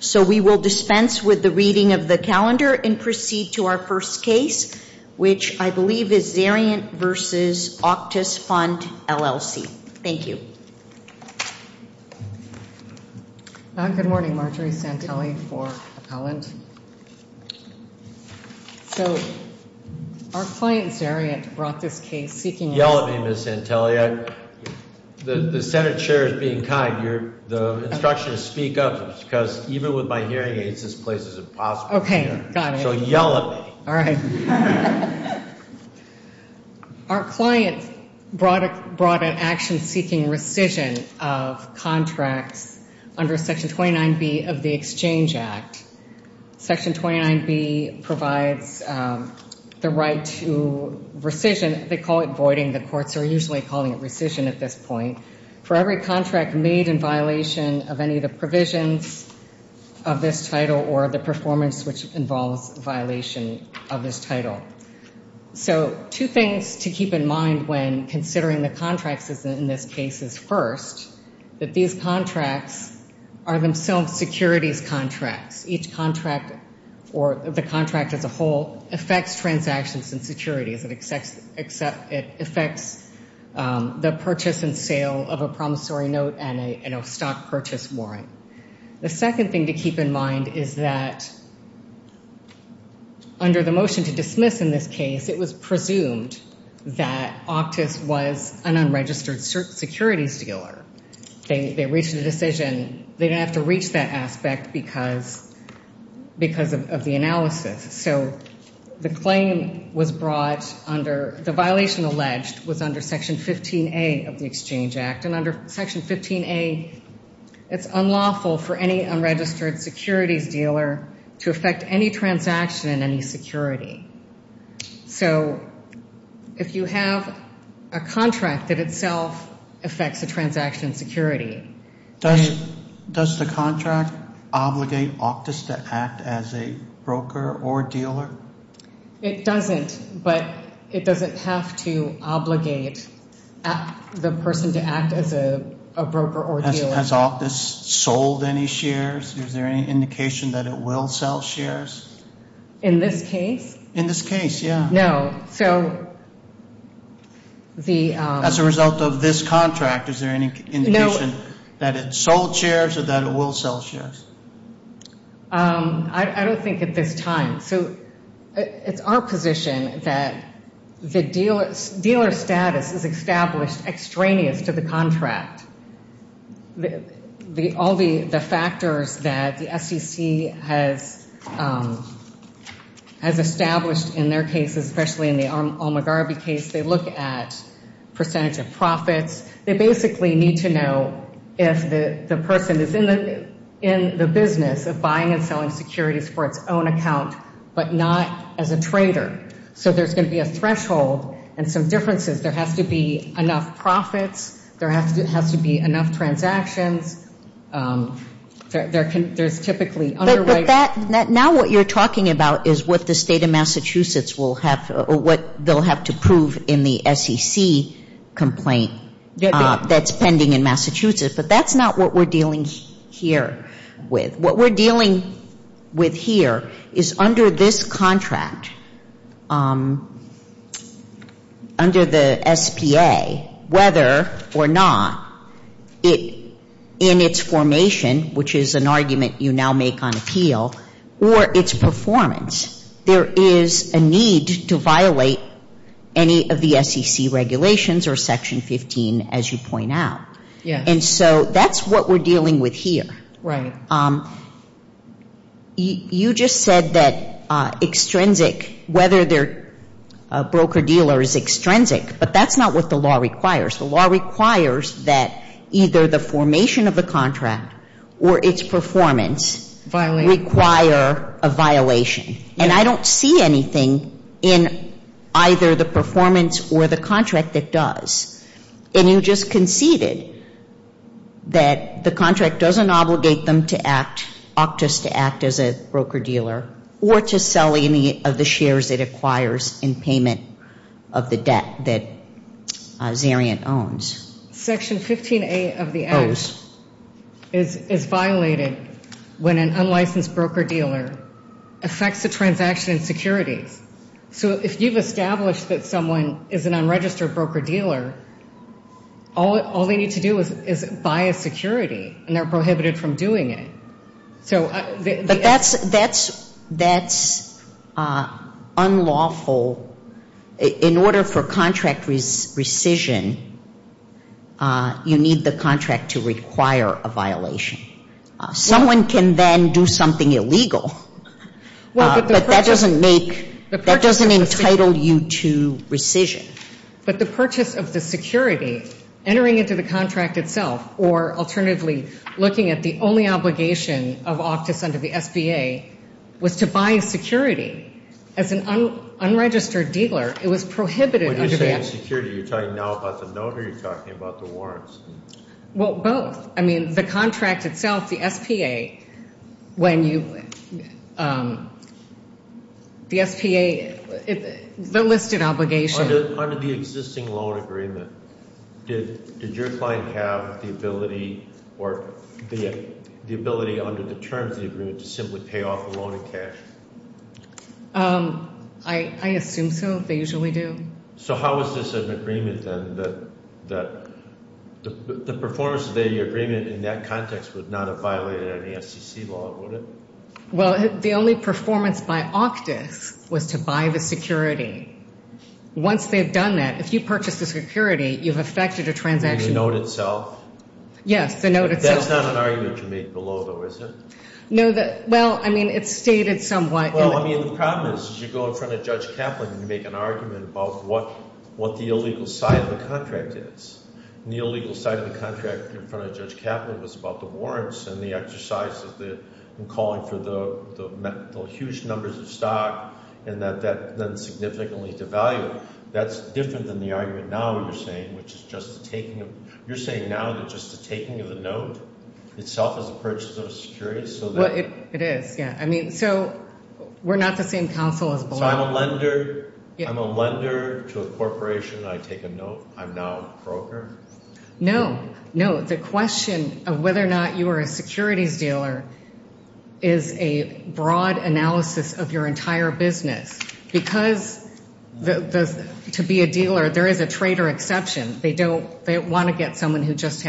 So we will dispense with the reading of the calendar and proceed to our first case, which I believe is Zeriant v. Auctus Fund, LLC. Thank you. Good morning, Marjorie Santelli for Appellant. So our client, Zeriant, brought this case seeking... Yell at me, Ms. Santelli. The Senate Chair is being kind. The instruction is speak up, because even with my hearing aids, this place is impossible. Okay, got it. So yell at me. All right. Our client brought an action seeking rescission of contracts under Section 29B of the Exchange Act. Section 29B provides the right to rescission. They call it voiding. The courts are usually calling it rescission at this point. For every contract made in violation of any of the provisions of this title or the performance which involves violation of this title. So two things to keep in mind when considering the contracts in this case is first, that these contracts are themselves securities contracts. Each contract or the contract as a whole affects transactions and securities. It affects the purchase and sale of a promissory note and a stock purchase warrant. The second thing to keep in mind is that under the motion to dismiss in this case, it was presumed that Octus was an unregistered securities dealer. They reached a decision. They didn't have to reach that aspect because of the analysis. So the claim was brought under, the violation alleged was under Section 15A of the Exchange Act. And under Section 15A, it's unlawful for any unregistered securities dealer to affect any transaction in any security. So if you have a contract that itself affects a transaction security. Does the contract obligate Octus to act as a broker or dealer? It doesn't, but it doesn't have to obligate the person to act as a broker or dealer. Has Octus sold any shares? Is there any indication that it will sell shares? In this case? In this case, yeah. No. So the- As a result of this contract, is there any indication? No. That it sold shares or that it will sell shares? I don't think at this time. So it's our position that the dealer status is established extraneous to the contract. All the factors that the SEC has established in their case, especially in the Al-Mugarabi case, they look at percentage of profits. They basically need to know if the person is in the business of buying and selling securities for its own account, but not as a trader. So there's going to be a threshold and some differences. There has to be enough profits. There has to be enough transactions. There's typically underwriting. Now what you're talking about is what the state of Massachusetts will have to prove in the SEC complaint that's pending in Massachusetts. But that's not what we're dealing here with. What we're dealing with here is under this contract, under the SPA, whether or not in its formation, which is an argument you now make on appeal, or its performance, there is a need to violate any of the SEC regulations or Section 15, as you point out. And so that's what we're dealing with here. You just said that extrinsic, whether they're a broker-dealer is extrinsic, but that's not what the law requires. The law requires that either the formation of the contract or its performance require a violation. And I don't see anything in either the performance or the contract that does. And you just conceded that the contract doesn't obligate them to act, opt us to act as a broker-dealer, or to sell any of the shares it acquires in payment of the debt that Zarian owns. Section 15A of the Act is violated when an unlicensed broker-dealer affects a transaction in securities. So if you've established that someone is an unregistered broker-dealer, all they need to do is buy a security, and they're prohibited from doing it. But that's unlawful, in order for contract rescission, you need the contract to require a violation. Someone can then do something illegal, but that doesn't make, that doesn't entitle you to rescission. But the purchase of the security, entering into the contract itself, or alternatively, looking at the only obligation of Optus under the SBA, was to buy a security, as an unregistered dealer, it was prohibited under the Act. When you're saying security, you're talking now about the loan, or you're talking about the warrants? Well, both. I mean, the contract itself, the SPA, when you, the SPA, the listed obligation. Under the existing loan agreement, did your client have the ability, or the ability under the terms of the agreement, to simply pay off the loan in cash? I assume so, they usually do. So how is this an agreement, then, that the performance of the agreement in that context would not have violated any SEC law, would it? Well, the only performance by Optus was to buy the security. Once they've done that, if you purchase the security, you've affected a transaction. In the note itself? Yes, the note itself. That's not an argument you made below, though, is it? No, well, I mean, it's stated somewhat. Well, I mean, the problem is, you go in front of Judge Kaplan, and you make an argument about what the illegal side of the contract is. And the illegal side of the contract in front of Judge Kaplan was about the warrants, and the exercises, and calling for the huge numbers of stock, and that that then significantly devalued. That's different than the argument now you're saying, which is just the taking of... You're saying now that just the taking of the note itself is a purchase of a security? Well, it is, yeah. I mean, so we're not the same counsel as below. So I'm a lender to a corporation, and I take a note. I'm now a broker? No, no. The question of whether or not you are a securities dealer is a broad analysis of your entire business. Because to be a dealer, there is a trader exception. They want to get someone who just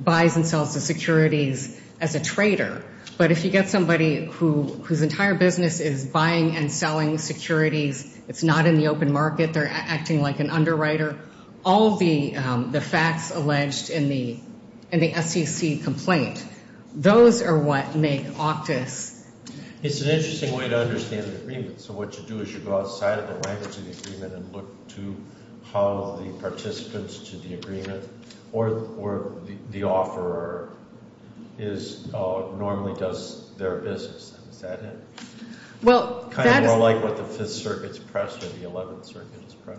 buys and sells the securities as a trader. But if you get somebody whose entire business is buying and selling securities, it's not in the open market, they're acting like an underwriter, all the facts alleged in the SEC complaint, those are what make OCTIS... It's an interesting way to understand the agreement. So what you do is you go outside of the language of the agreement and look to how the participants to the agreement, or the offeror normally does their business. Is that it? Well, that is... Kind of more like what the Fifth Circuit's press or the Eleventh Circuit's press?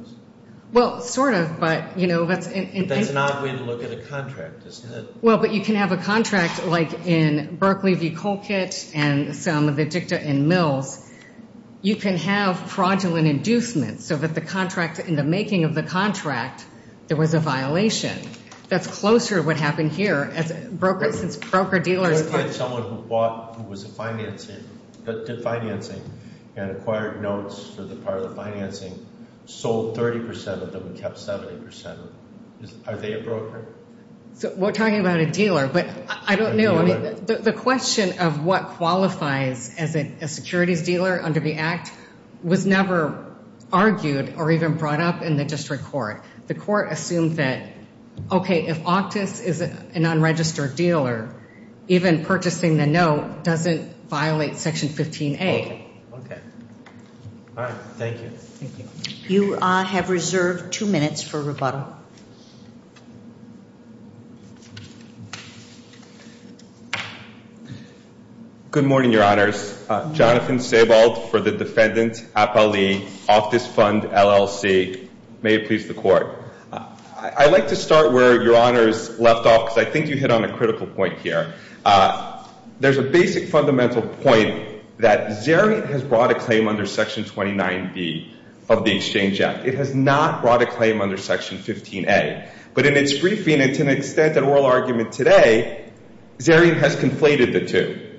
Well, sort of, but, you know, that's... That's not a way to look at a contract, is it? Well, but you can have a contract like in Berkley v. Colquitt and some of the dicta in Mills. You can have fraudulent inducements so that the contract, in the making of the contract, there was a violation. That's closer to what happened here as brokers, since broker-dealers... I would find someone who bought, who was financing and acquired notes for the part of the financing, sold 30% of them and kept 70%. Are they a broker? So we're talking about a dealer, but I don't know. I mean, the question of what qualifies as a securities dealer under the Act was never argued or even brought up in the district court. The court assumed that, okay, if Octus is an unregistered dealer, even purchasing the note doesn't violate Section 15A. Okay. All right. Thank you. Thank you. You have reserved two minutes for rebuttal. Good morning, Your Honors. Jonathan Sebald for the defendant, Apali, Octus Fund, LLC. May it please the court. I'd like to start where Your Honors left off, because I think you hit on a critical point here. There's a basic fundamental point that Xerion has brought a claim under Section 29B of the Exchange Act. It has not brought a claim under Section 15A. But in its briefing, and to an extent an oral argument today, Xerion has conflated the two.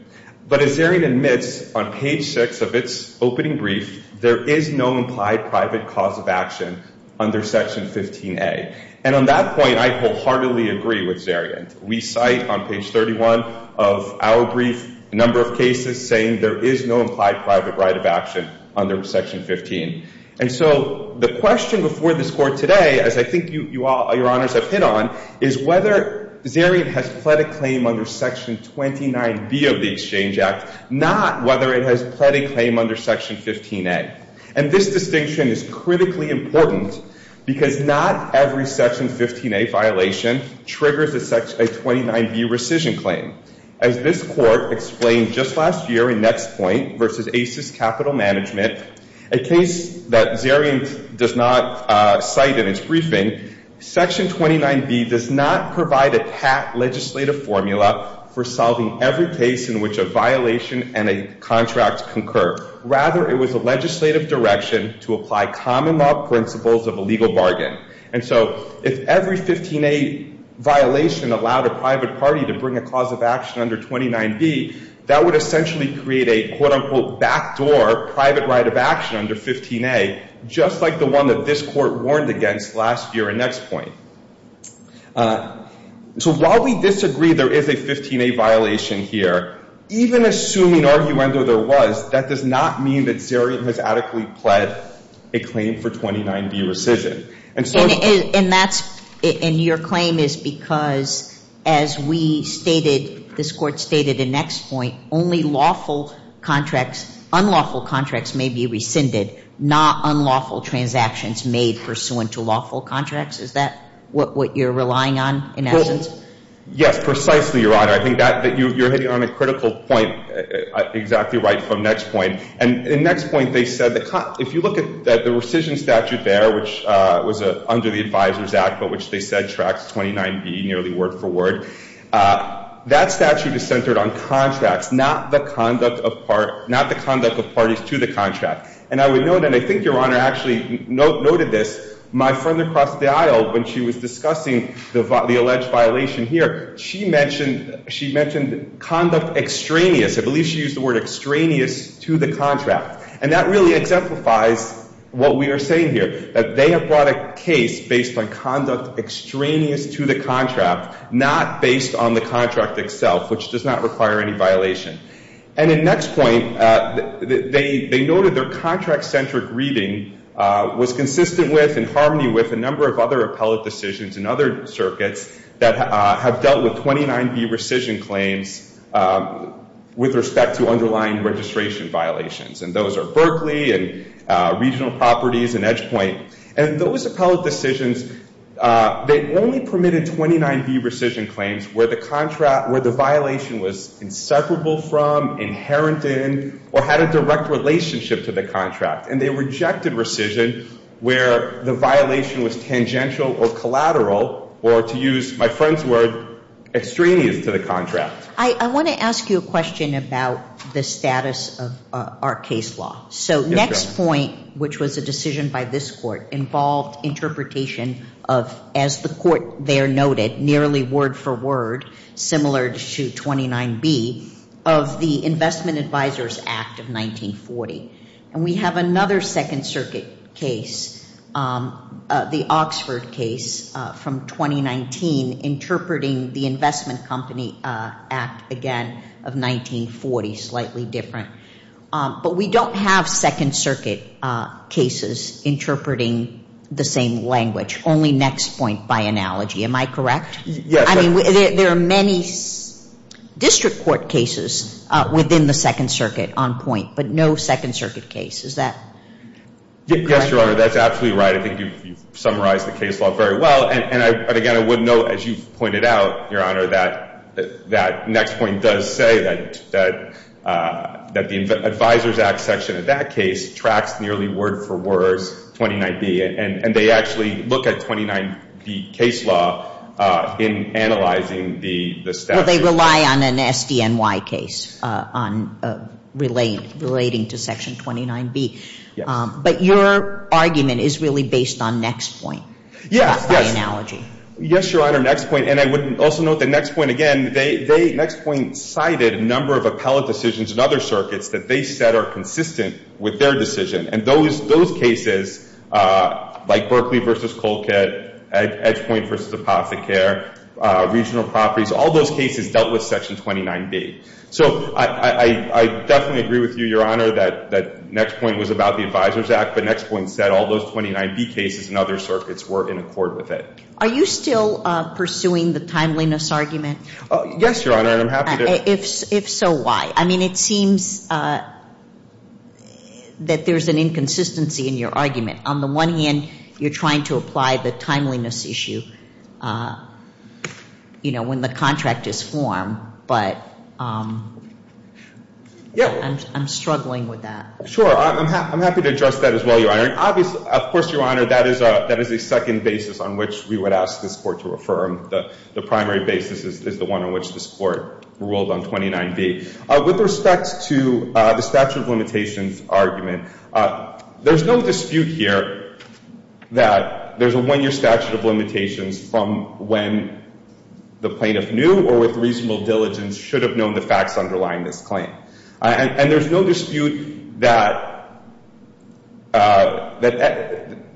But as Xerion admits on page six of its opening brief, there is no implied private cause of action under Section 15A. And on that point, I wholeheartedly agree with Xerion. We cite on page 31 of our brief a number of cases saying there is no implied private right of action under Section 15. And so the question before this court today, as I think you all, Your Honors, have hit on, is whether Xerion has pled a claim under Section 29B of the Exchange Act, not whether it has pled a claim under Section 15A. And this distinction is critically important, because not every Section 15A violation triggers a 29B rescission claim. As this court explained just last year in Next Point versus ACES Capital Management, a case that Xerion does not cite in its briefing, Section 29B does not provide a pat legislative formula for solving every case in which a violation and a contract concur. Rather, it was a legislative direction to apply common law principles of a legal bargain. And so if every 15A violation allowed a private party to bring a cause of action under 29B, that would essentially create a, quote-unquote, backdoor private right of action under 15A, just like the one that this court warned against last year in Next Point. So while we disagree there is a 15A violation here, even assuming arguendo there was, that does not mean that Xerion has adequately pled a claim for 29B rescission. And that's, and your claim is because as we stated, this court stated in Next Point, only lawful contracts, unlawful contracts may be rescinded, not unlawful transactions made pursuant to lawful contracts. Is that what you're relying on in essence? Yes, precisely, Your Honor. I think that you're hitting on a critical point exactly right from Next Point. And in Next Point they said, if you look at the rescission statute there, which was under the Advisors Act, but which they said tracks 29B nearly word for word, that statute is centered on contracts, not the conduct of parties to the contract. And I would note, and I think Your Honor actually noted this, my friend across the aisle, when she was discussing the alleged violation here, she mentioned conduct extraneous. I believe she used the word extraneous to the contract. And that really exemplifies what we are saying here, that they have brought a case based on conduct extraneous to the contract, not based on the contract itself, which does not require any violation. And in Next Point, they noted their contract-centric reading was consistent with and harmony with a number of other appellate decisions in other circuits that have dealt with 29B rescission claims with respect to underlying registration violations. And those are Berkeley and regional properties and Edge Point. And those appellate decisions, they only permitted 29B rescission claims where the contract, where the violation was inseparable from, inherent in, or had a direct relationship to the contract. And they rejected rescission where the violation was tangential or collateral, or to use my friend's word, extraneous to the contract. I want to ask you a question about the status of our case law. So Next Point, which was a decision by this court, involved interpretation of, as the court there noted, nearly word for word, similar to 29B, of the Investment Advisors Act of 1940. And we have another Second Circuit case, the Oxford case from 2019, interpreting the Investment Company Act, again, of 1940, slightly different. But we don't have Second Circuit cases interpreting the same language, only Next Point by analogy. Am I correct? Yes. I mean, there are many district court cases within the Second Circuit on point, but no Second Circuit case. Is that correct? Yes, Your Honor. That's absolutely right. I think you've summarized the case law very well. And again, I would note, as you've pointed out, Your Honor, that Next Point does say that the Advisors Act section of that case tracks nearly word for word 29B. And they actually look at 29B case law in analyzing the status. Well, they rely on an SDNY case relating to section 29B. But your argument is really based on Next Point? Yes. By analogy. Yes, Your Honor. Next Point. And I would also note that Next Point, again, Next Point cited a number of appellate decisions in other circuits that they said are consistent with their decision. And those cases, like Berkeley versus Colquitt, Edge Point versus Apothecary, regional properties, all those cases dealt with section 29B. So I definitely agree with you, Your Honor, that Next Point was about the Advisors Act. But Next Point said all those 29B cases in other circuits were in accord with it. Are you still pursuing the timeliness argument? Yes, Your Honor. And I'm happy to... If so, why? I mean, it seems that there's an inconsistency in your argument. On the one hand, you're trying to apply the timeliness issue when the contract is formed. But I'm struggling with that. Sure. I'm happy to address that as well, Your Honor. And obviously, of course, Your Honor, that is a second basis on which we would ask this Court to affirm. The primary basis is the one on which this Court ruled on 29B. With respect to the statute of limitations argument, there's no dispute here that there's a one-year statute of limitations from when the plaintiff knew or with reasonable diligence should have known the facts underlying this claim. And there's no dispute that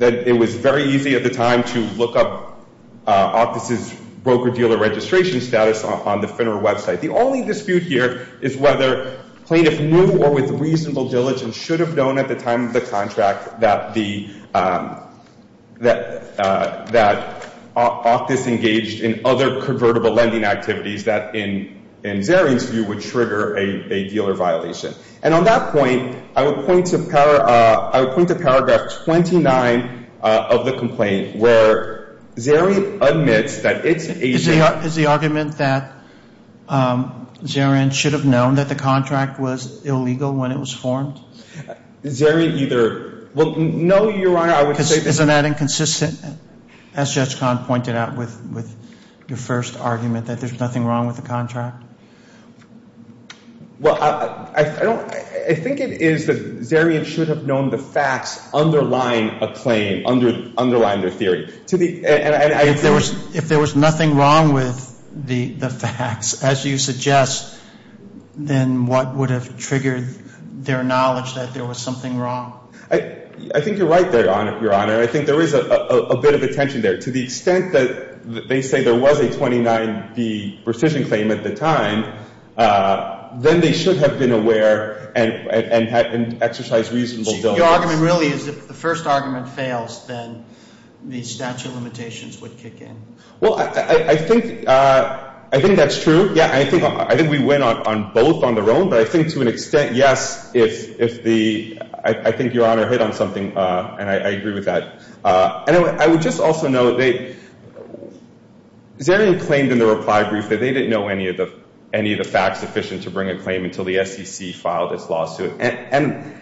it was very easy at the time to look up Octus' broker-dealer registration status on the FINRA website. The only dispute here is whether plaintiff knew or with reasonable diligence should have known at the time of the contract that Octus engaged in other convertible lending activities that, in Zarian's view, would trigger a dealer violation. And on that point, I would point to Paragraph 29 of the complaint where Zarian admits that it's a— Is the argument that Zarian should have known that the contract was illegal when it was formed? Zarian either— No, Your Honor, I would say— Isn't that inconsistent, as Judge Kahn pointed out with your first argument, that there's nothing wrong with the contract? Well, I don't—I think it is that Zarian should have known the facts underlying a claim, underlying their theory. To the— If there was nothing wrong with the facts, as you suggest, then what would have triggered their knowledge that there was something wrong? I think you're right there, Your Honor. I think there is a bit of a tension there. To the extent that they say there was a 29B rescission claim at the time, then they should have been aware and exercised reasonable doubt. So your argument really is if the first argument fails, then the statute of limitations would kick in? Well, I think that's true. Yeah, I think we went on both on their own. But I think to an extent, yes, if the—I think Your Honor hit on something, and I agree with that. Anyway, I would just also note they—Zarian claimed in the reply brief that they didn't know any of the facts sufficient to bring a claim until the SEC filed its lawsuit. And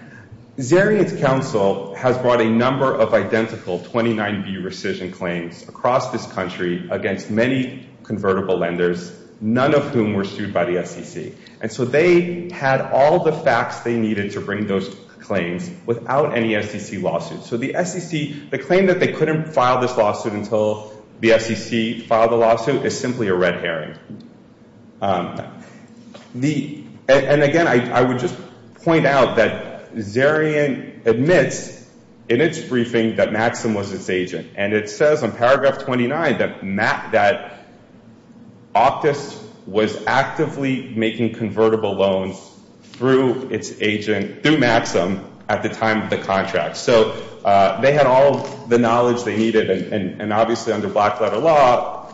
Zarian's counsel has brought a number of identical 29B rescission claims across this country against many convertible lenders, none of whom were sued by the SEC. And so they had all the facts they needed to bring those claims without any SEC lawsuit. So the SEC—the claim that they couldn't file this lawsuit until the SEC filed the lawsuit is simply a red herring. And again, I would just point out that Zarian admits in its briefing that Maxim was its agent. And it says on paragraph 29 that Optus was actively making convertible loans through its agent—through Maxim at the time of the contract. So they had all the knowledge they needed, and obviously under black-letter law,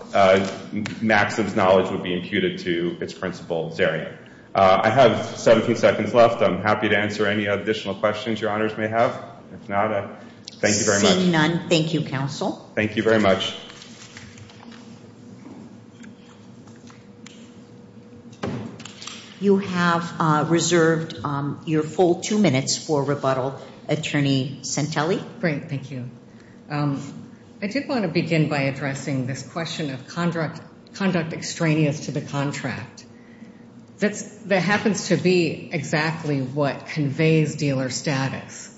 Maxim's knowledge would be imputed to its principal, Zarian. I have 17 seconds left. I'm happy to answer any additional questions Your Honors may have. If not, thank you very much. Seeing none, thank you, counsel. Thank you very much. You have reserved your full two minutes for rebuttal, Attorney Centelli. Great. Thank you. I did want to begin by addressing this question of conduct extraneous to the contract. That happens to be exactly what conveys dealer status.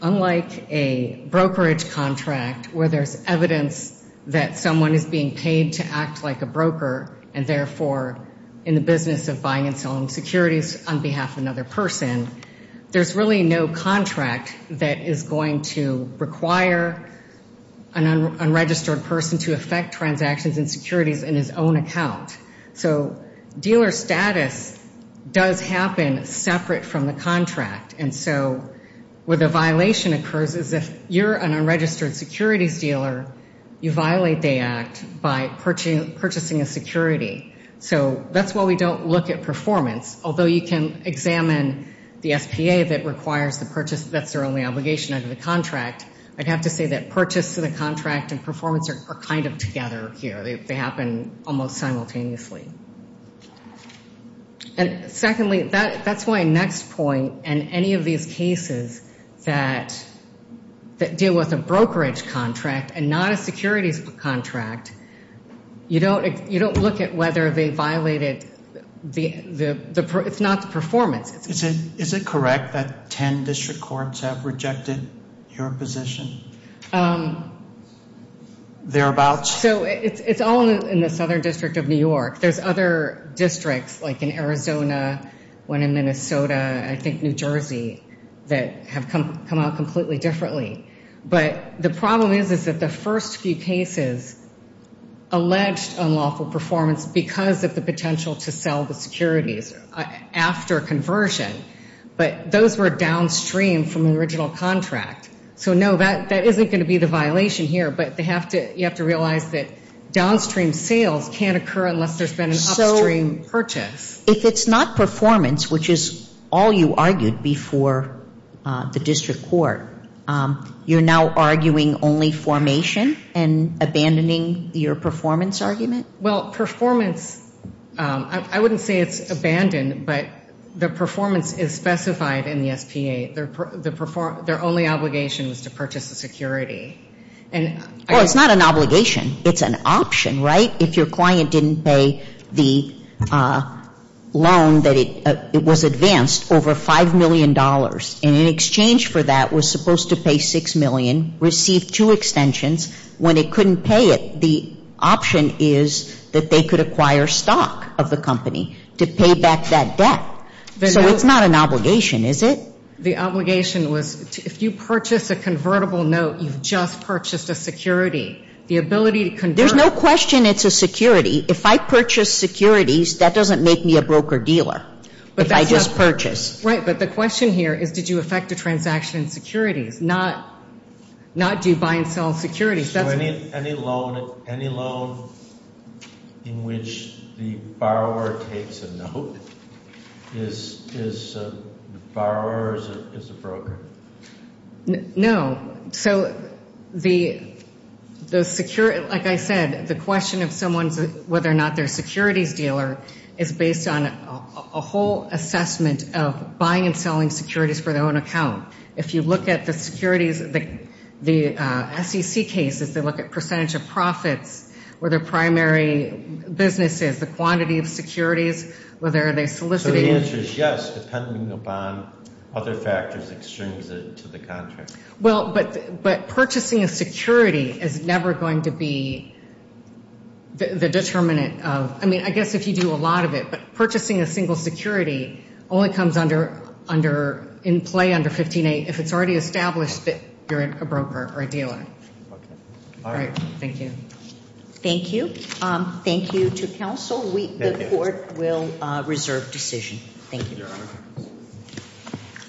Unlike a brokerage contract where there's evidence that the dealer is not a broker, that someone is being paid to act like a broker, and therefore in the business of buying and selling securities on behalf of another person, there's really no contract that is going to require an unregistered person to affect transactions and securities in his own account. So dealer status does happen separate from the contract. And so where the violation occurs is if you're an unregistered securities dealer, you violate the act by purchasing a security. So that's why we don't look at performance. Although you can examine the SPA that requires the purchase, that's their only obligation under the contract. I'd have to say that purchase to the contract and performance are kind of together here. They happen almost simultaneously. And secondly, that's why next point in any of these cases that deal with a brokerage contract and not a securities contract, you don't look at whether they violated the—it's not the performance. Is it correct that 10 district courts have rejected your position? They're about— So it's all in the Southern District of New York. There's other districts like in Arizona, one in Minnesota, I think New Jersey, that have come out completely differently. But the problem is that the first few cases alleged unlawful performance because of the potential to sell the securities after conversion. But those were downstream from the original contract. So no, that isn't going to be the violation here. But you have to realize that downstream sales can't occur unless there's been an upstream purchase. If it's not performance, which is all you argued before the district court, you're now arguing only formation and abandoning your performance argument? Well, performance, I wouldn't say it's abandoned, but the performance is specified in the SPA. Their only obligation was to purchase the security. And— Well, it's not an obligation. It's an option, right? If your client didn't pay the loan that it was advanced, over $5 million, and in exchange for that was supposed to pay $6 million, received two extensions, when it couldn't pay it, the option is that they could acquire stock of the company to pay back that debt. So it's not an obligation, is it? The obligation was if you purchase a convertible note, you've just purchased a security. The ability to convert— There's no question it's a security. If I purchase securities, that doesn't make me a broker-dealer, if I just purchase. Right. But the question here is did you effect a transaction in securities, not do you buy and sell securities. So any loan in which the borrower takes a note, is the borrower or is it the broker? No. So the security—like I said, the question of someone's—whether or not they're a securities dealer is based on a whole assessment of buying and selling securities for their own account. If you look at the securities—the SEC cases, they look at percentage of profits, where their primary business is, the quantity of securities, whether they're soliciting— So the answer is yes, depending upon other factors, extremes to the contract. Well, but purchasing a security is never going to be the determinant of—I mean, I guess if you do a lot of it, but purchasing a single security only comes under—in play under 15-8 if it's already established that you're a broker or a dealer. Okay. All right. Thank you. Thank you. Thank you to counsel. The court will reserve decision. Thank you, Your Honor.